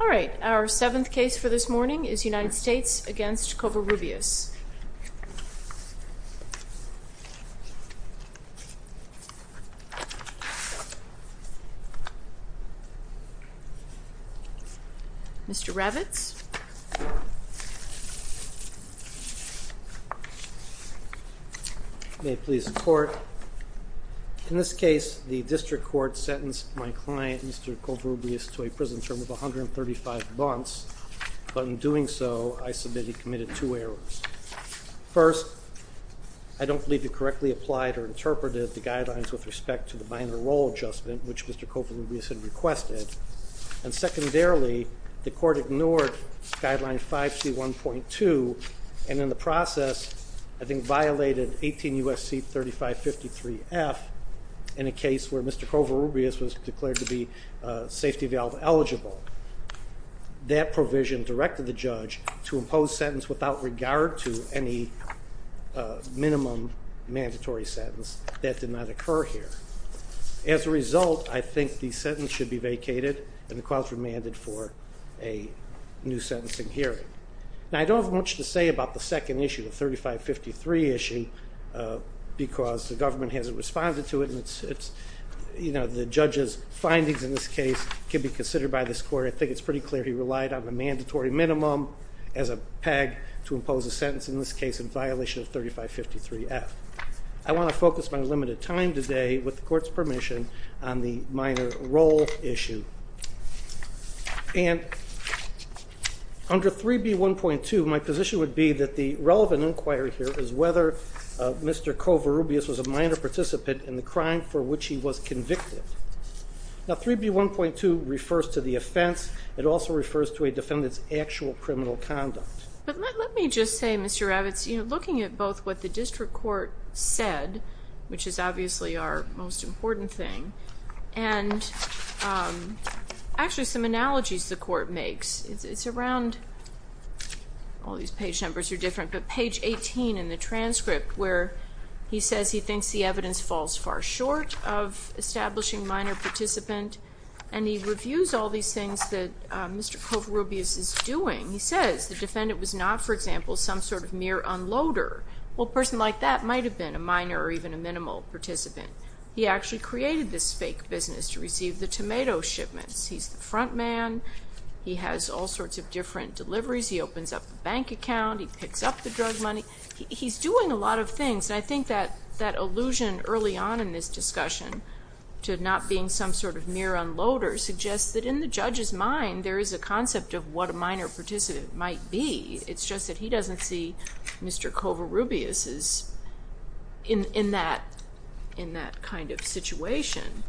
All right, our seventh case for this morning is United States v. Covarrubias. Mr. Ravitz. May it please the court. In this case, the district court sentenced my client, Mr. Covarrubias, to a prison term of 135 months, but in doing so, I submit he committed two errors. First, I don't believe he correctly applied or interpreted the guidelines with respect to the minor role adjustment, which Mr. Covarrubias had requested. And secondarily, the court ignored guideline 5C1.2, and in the process, I think violated 18 U.S.C. 3553F in a case where Mr. Covarrubias was declared to be safety valve eligible. That provision directed the court to any minimum mandatory sentence. That did not occur here. As a result, I think the sentence should be vacated, and the client is remanded for a new sentencing hearing. Now, I don't have much to say about the second issue, the 3553 issue, because the government hasn't responded to it, and it's, you know, the judge's findings in this case can be considered by this court. I think it's pretty clear he relied on the mandatory minimum as a peg to impose a sentence in this case in violation of 3553F. I want to focus my limited time today, with the court's permission, on the minor role issue. And under 3B1.2, my position would be that the relevant inquiry here is whether Mr. Covarrubias was a minor participant in the crime for which he was convicted. Now, 3B1.2 refers to the offense. It also refers to a defendant's actual criminal conduct. But let me just say, Mr. Ravitz, you know, looking at both what the district court said, which is obviously our most important thing, and actually some analogies the court makes. It's around, all these page numbers are different, but page 18 in the transcript, where he says he thinks the evidence falls far short of establishing minor participant, and he reviews all these things that Mr. Covarrubias is doing. He says the defendant was not, for example, some sort of mere unloader. Well, a person like that might have been a minor or even a minimal participant. He actually created this fake business to receive the tomato shipments. He's the front man. He has all sorts of different deliveries. He opens up a bank account. He picks up the drug money. He's doing a lot of things. I think that illusion early on in this discussion, to not being some sort of mere unloader, suggests that in the judge's mind, there is a concept of what a minor participant might be. It's just that he doesn't see Mr. Covarrubias in that kind of situation.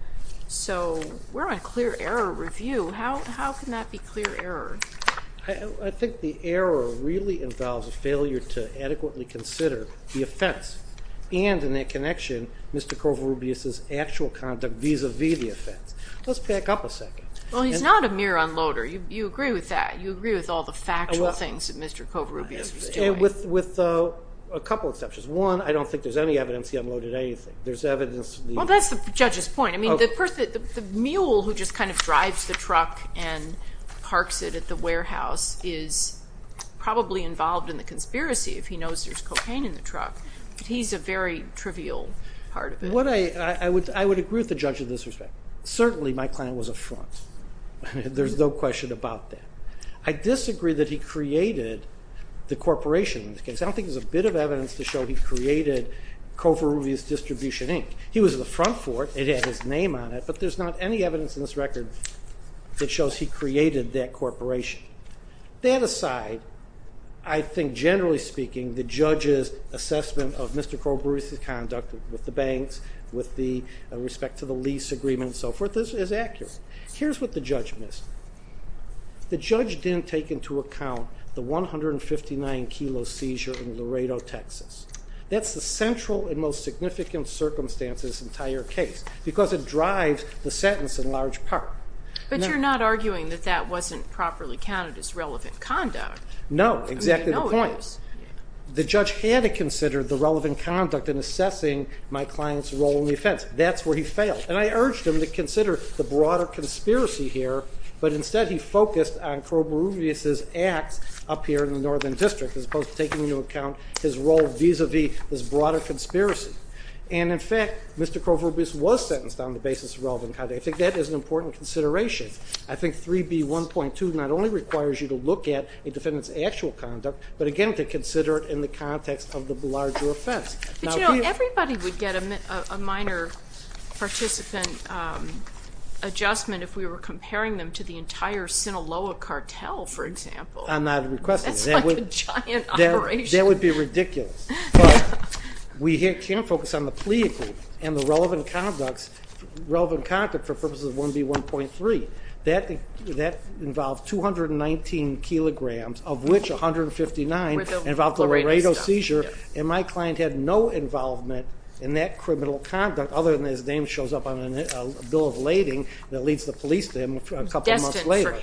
So, we're on clear error review. How can that be clear error? I think the error really involves a failure to adequately consider the offense, and in that connection, Mr. Covarrubias' actual conduct vis-a-vis the offense. Let's back up a second. Well, he's not a mere unloader. You agree with that. You agree with all the factual things that Mr. Covarrubias was doing. With a couple exceptions. One, I don't think there's any evidence he unloaded anything. There's evidence that he- Well, that's the judge's point. I mean, the person, the mule who just kind of drives the truck and parks it at the warehouse is probably involved in the conspiracy if he knows there's a real part of it. I would agree with the judge in this respect. Certainly, my client was a front. There's no question about that. I disagree that he created the corporation in this case. I don't think there's a bit of evidence to show he created Covarrubias Distribution, Inc. He was the front for it. It had his name on it, but there's not any evidence in this record that shows he created that corporation. That aside, I think, generally speaking, the judge's Mr. Covarrubias's conduct with the banks, with the respect to the lease agreement and so forth is accurate. Here's what the judge missed. The judge didn't take into account the 159 kilo seizure in Laredo, Texas. That's the central and most significant circumstance of this entire case because it drives the sentence in large part. But you're not arguing that that wasn't properly counted as relevant conduct. No, exactly the point. The judge had to consider the relevant conduct in assessing my client's role in the offense. That's where he failed. And I urged him to consider the broader conspiracy here, but instead he focused on Covarrubias's acts up here in the Northern District as opposed to taking into account his role vis-a-vis this broader conspiracy. And in fact, Mr. Covarrubias was sentenced on the basis of relevant conduct. I think that is an important actual conduct, but again, to consider it in the context of the larger offense. But you know, everybody would get a minor participant adjustment if we were comparing them to the entire Sinaloa cartel, for example. That's like a giant operation. That would be ridiculous. But we can focus on the plea agreement and the relevant conduct for purposes of 1B1.3. That involved 219 kilograms, of which 159 involved a Laredo seizure, and my client had no involvement in that criminal conduct other than his name shows up on a bill of lading that leads the police to him a couple of months later.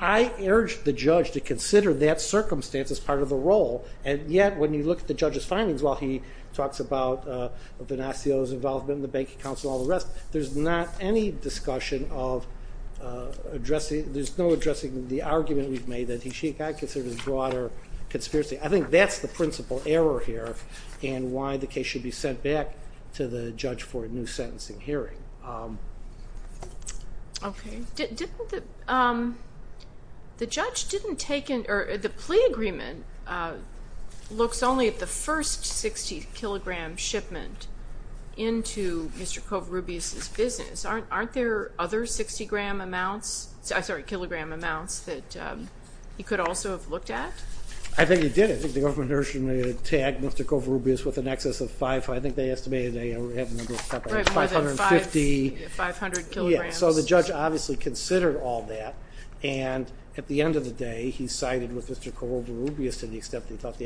I urged the judge to consider that circumstance as part of the role, and yet when you look at the judge's findings while he talks about Venasio's involvement in the bank accounts and all the rest, there's not any discussion of addressing, there's no addressing the argument we've made that he should not consider this broader conspiracy. I think that's the principal error here, and why the case should be sent back to the judge for a new sentencing hearing. The judge didn't take in, or the plea agreement looks only at the first 60 kilogram shipment into Mr. Kovarubias' business. Aren't there other 60 gram amounts, I'm sorry, kilogram amounts that he could also have looked at? I think he did. I think the government originally tagged Mr. Kovarubias with an excess of 5, I think they estimated they had a number of something like 550. Right, more than 500 kilograms. So the judge obviously considered all that, and at the end of the day he sided with Mr. Kovarubias to the extent that he thought the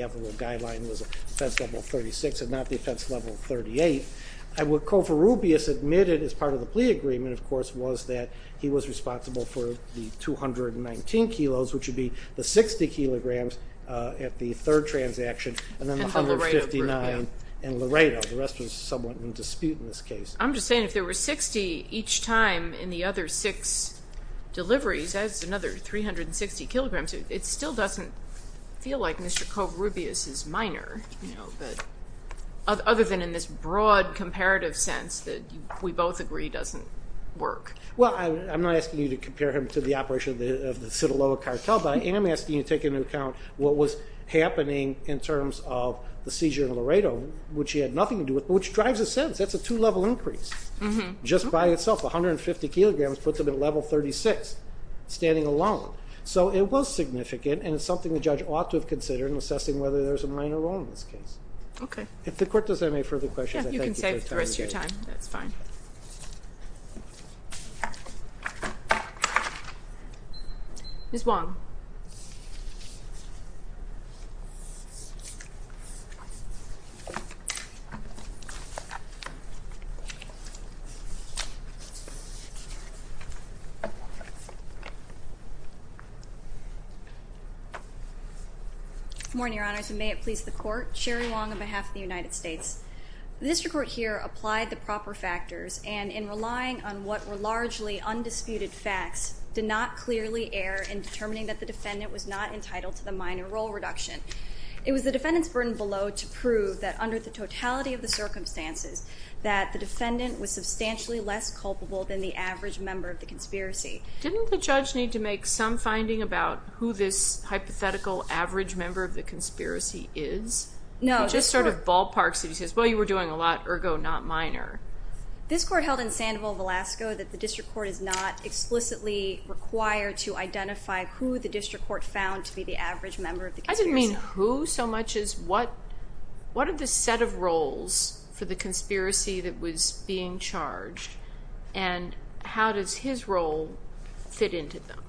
case leveled 38. What Kovarubias admitted as part of the plea agreement, of course, was that he was responsible for the 219 kilos, which would be the 60 kilograms at the third transaction, and then the 159 in Laredo. The rest was somewhat in dispute in this case. I'm just saying if there were 60 each time in the other six deliveries, that's another 360 kilograms, it still doesn't feel like Mr. Kovarubias is minor, you know, other than in this broad comparative sense that we both agree doesn't work. Well, I'm not asking you to compare him to the operation of the Sinaloa cartel, but I am asking you to take into account what was happening in terms of the seizure in Laredo, which he had nothing to do with, which drives a sense, that's a two-level increase. Just by itself, 150 kilograms puts him at So it was significant, and it's something the judge ought to have considered in assessing whether there's a minor role in this case. Okay. If the court doesn't have any further questions, I thank you for your time. You can save the rest of your time, that's fine. Ms. Wong. Good morning, Your Honors, and may it please the court. Sherry Wong on behalf of the United States. The district court here applied the proper factors, and in relying on what were largely undisputed facts, did not clearly err in determining that the defendant was not entitled to the minor role reduction. It was the defendant's burden below to prove that under the totality of the circumstances, that the defendant was substantially less culpable than the average member of the conspiracy. Didn't the judge need to make some finding about who this hypothetical average member of the conspiracy is? No. Just sort of ballpark so he says, well, you were doing a lot, ergo not minor. This court held in Sandoval, Alaska, that the district court is not explicitly required to identify who the district court found to be the average member of the conspiracy. I didn't mean who so much as what are the set of roles for the conspiracy that was being charged, and how does his role fit into them?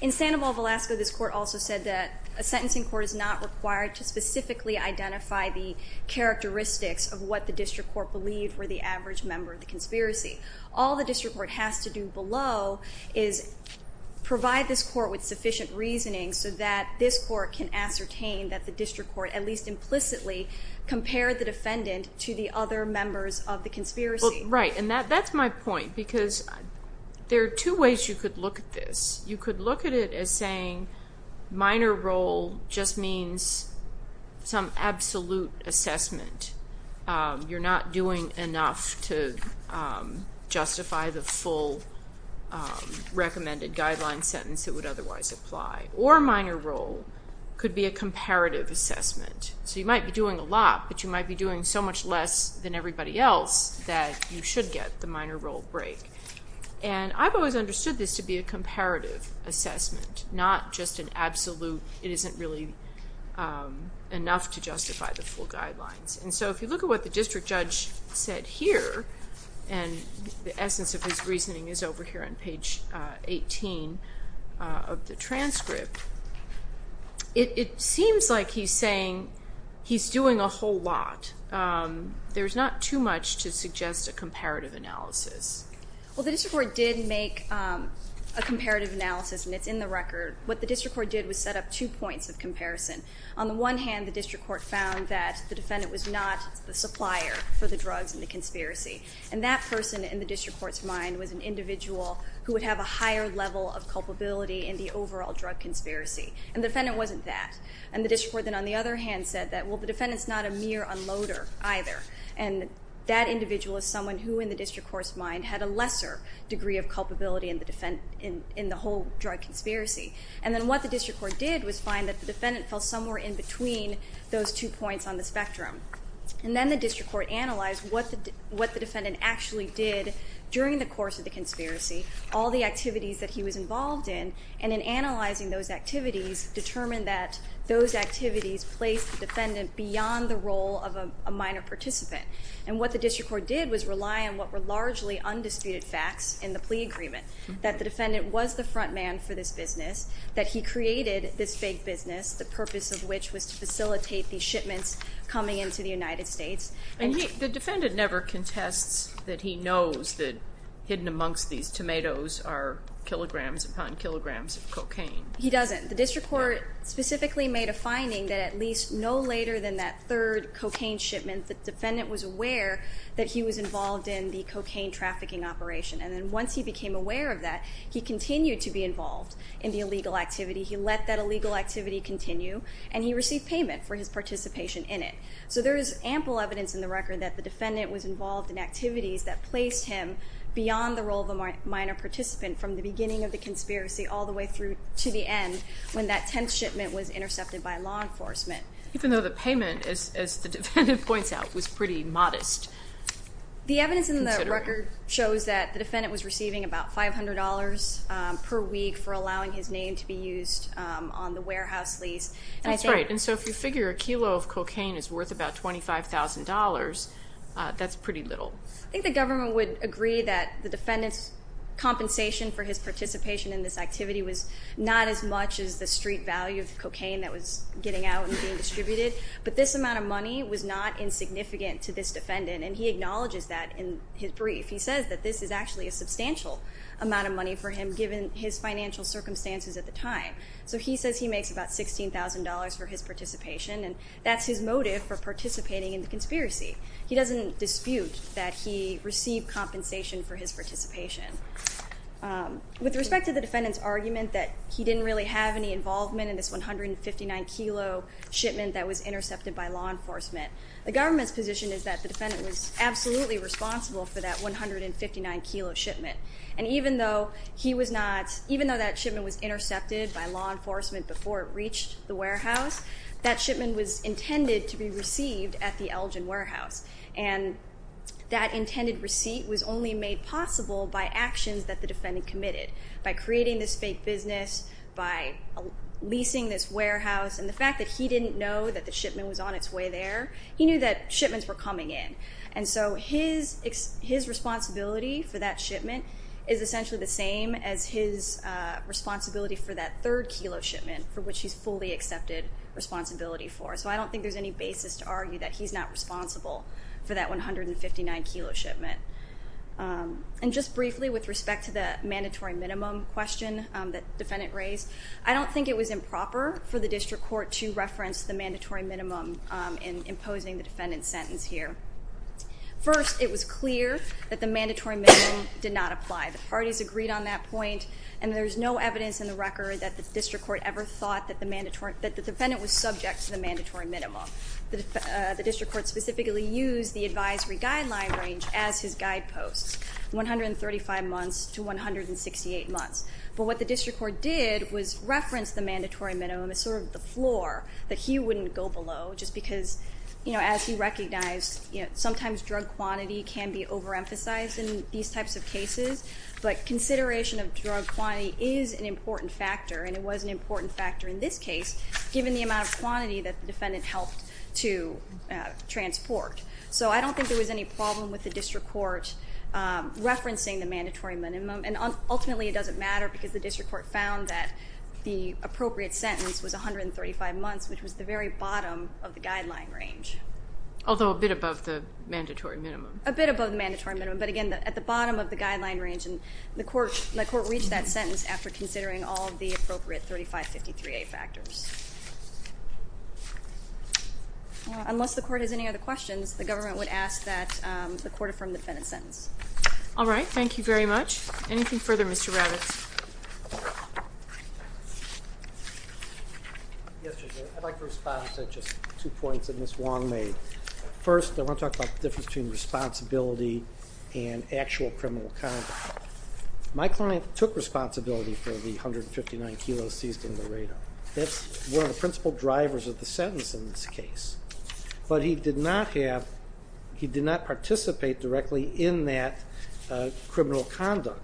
In Sandoval, Alaska, this court also said that a sentencing court is not required to specifically identify the characteristics of what the district court believed were the average member of the conspiracy. All the district court has to do below is provide this court with sufficient reasoning so that this court can ascertain that the district court, at least implicitly, compared the defendant to the other members of the conspiracy. Right, and that's my point because there are two ways you could look at this. You could look at it as saying minor role just means some absolute assessment. You're not doing enough to justify the full recommended guideline sentence that would otherwise apply. Or minor role could be a comparative assessment. So you might be doing a lot, but you might be doing so much less than everybody else that you should get the minor role break. And I've always understood this to be a comparative assessment, not just an absolute, it isn't really enough to justify the full guidelines. And so if you look at what the district judge said here, and the essence of his reasoning is over here on page 18 of the transcript, it seems like he's saying he's doing a whole lot. There's not too much to suggest a comparative analysis. Well, the district court did make a comparative analysis, and it's in the record. What the district court did was set up two points of comparison. On the one hand, the district court found that the defendant was not the supplier for the drugs in the conspiracy. And that person in the district court's mind was an individual who would have a higher level of culpability in the overall drug conspiracy. And the defendant wasn't that. And the district court then on the other hand said that, well, the defendant's not a mere unloader either. And that individual is someone who in the district court's mind had a lesser degree of culpability in the whole drug conspiracy. And then what the district court did was find that the defendant fell somewhere in between those two points on the spectrum. And then the district court analyzed what the defendant actually did during the course of the conspiracy, all the activities that he was involved in. And in analyzing those activities, determined that those activities placed the defendant beyond the role of a minor participant. And what the district court did was rely on what were largely undisputed facts in the plea agreement, that the defendant was the front man for this business, that he created this big business, the purpose of which was to facilitate these shipments coming into the United States. And he, the defendant never contests that he knows that hidden amongst these tomatoes are kilograms upon kilograms of cocaine. He doesn't. The district court specifically made a finding that at least no later than that third cocaine shipment, the defendant was aware that he was involved in the cocaine trafficking operation. And then once he became aware of that, he continued to be involved in the illegal activity. He let that illegal activity continue and he received payment for his participation in it. So there is ample evidence in the record that the defendant was involved in activities that placed him beyond the role of a minor participant from the beginning of the conspiracy all the way through to the end when that 10th shipment was intercepted by law enforcement. Even though the payment, as the defendant points out, was pretty modest. The evidence in the record shows that the defendant was receiving about $500 per week for allowing his name to be used on the warehouse lease. That's right. And so if you figure a kilo of cocaine is worth about $25,000, that's pretty little. I think the government would agree that the defendant's compensation for his participation in this activity was not as much as the street value of cocaine that was getting out and being distributed. But this amount of money was not insignificant to this defendant and he acknowledges that in his brief. He says that this is actually a substantial amount of money for him given his financial circumstances at the time. So he says he makes about $16,000 for his participation and that's his motive for participating in the conspiracy. He doesn't dispute that he received compensation for his participation. With respect to the defendant's argument that he didn't really have any involvement in this 159 kilo shipment that was intercepted by law enforcement, the government's position is that the defendant was absolutely responsible for that 159 kilo shipment. And even though he was not, even though that shipment was intended to be received at the Elgin Warehouse and that intended receipt was only made possible by actions that the defendant committed, by creating this fake business, by leasing this warehouse and the fact that he didn't know that the shipment was on its way there, he knew that shipments were coming in. And so his responsibility for that shipment is essentially the same as his responsibility for that third kilo shipment for which he's fully accepted responsibility for. So I don't think there's any basis to argue that he's not responsible for that 159 kilo shipment. And just briefly with respect to the mandatory minimum question that the defendant raised, I don't think it was improper for the district court to reference the mandatory minimum in imposing the defendant's sentence here. First, it was clear that the mandatory minimum did not apply. The parties agreed on that point and there's no evidence in the record that the district court ever thought that the defendant was subject to the mandatory minimum. The district court specifically used the advisory guideline range as his guideposts, 135 months to 168 months. But what the district court did was reference the mandatory minimum as sort of the floor that he wouldn't go below just because, you know, as he recognized, you know, sometimes drug quantity can be overemphasized in these an important factor in this case given the amount of quantity that the defendant helped to transport. So I don't think there was any problem with the district court referencing the mandatory minimum. And ultimately, it doesn't matter because the district court found that the appropriate sentence was 135 months, which was the very bottom of the guideline range. Although a bit above the mandatory minimum. A bit above the mandatory minimum. But again, at the bottom of the guideline range and the court reached that sentence after considering all of the appropriate 3553A factors. Unless the court has any other questions, the government would ask that the court affirm the defendant's sentence. All right. Thank you very much. Anything further, Mr. Ravitz? Yes, Judge Mayer. I'd like to respond to just two points that Ms. Wong made. First, I want to talk about the difference between responsibility and actual criminal conduct. My client took responsibility for the 159 kilos seized in Laredo. That's one of the principal drivers of the sentence in this case. But he did not participate directly in that criminal conduct.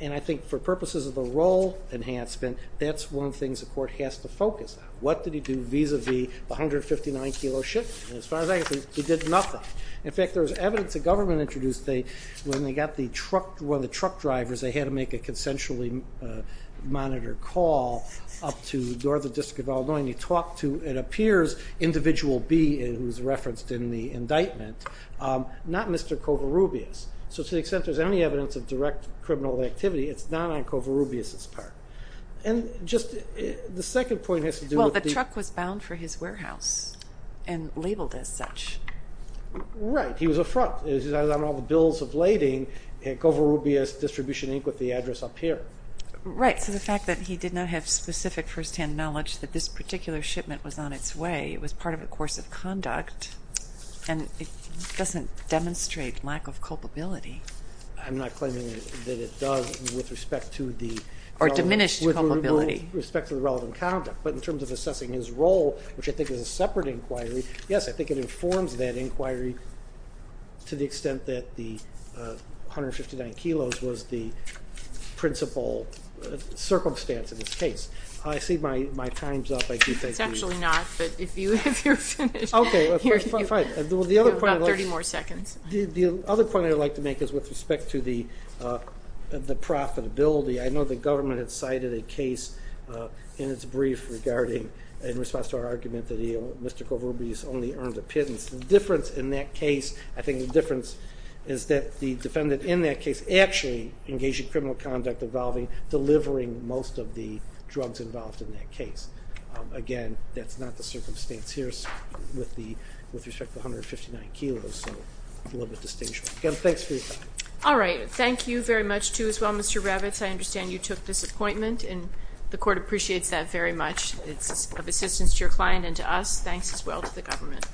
And I think for purposes of the role enhancement, that's one of the things the court has to focus on. What did he do vis-a-vis the 159 kilo shipment? As far as I can see, he did nothing. In fact, there was evidence the government introduced when they got one of the truck drivers, they had to make a consensually monitored call up to the Northern District of Illinois, and he talked to, it appears, Individual B, who was referenced in the indictment, not Mr. Covarrubias. So to the extent there's any evidence of direct criminal activity, it's not on Covarrubias' part. And just the second point has to do with the- Well, the truck was bound for his warehouse and labeled as such. Right. He was a front. On all the bills of lading, Covarrubias Distribution, Inc. with the address up here. Right. So the fact that he did not have specific firsthand knowledge that this particular shipment was on its way, it was part of the course of conduct, and it doesn't demonstrate lack of culpability. I'm not claiming that it does with respect to the- Or diminished culpability. Respect to the relevant conduct. But in terms of assessing his role, which I think is a key part of that inquiry, to the extent that the 159 kilos was the principal circumstance of this case. I see my time's up. I do think we- It's actually not, but if you're finished, you have about 30 more seconds. The other point I'd like to make is with respect to the profitability. I know the government had cited a case in its brief regarding, in response to our argument that Mr. Covarrubias only earned a pittance. The difference in that case, I think the difference is that the defendant in that case actually engaged in criminal conduct involving delivering most of the drugs involved in that case. Again, that's not the circumstance here with respect to the 159 kilos, so a little bit distinguished. Again, thanks for your time. All right. Thank you very much, too, as well, Mr. Ravitz. I understand you took this appointment, and the court appreciates that very much. It's of assistance to your client and to us. Thanks, as well, to the government.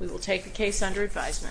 We will take the case under advisement.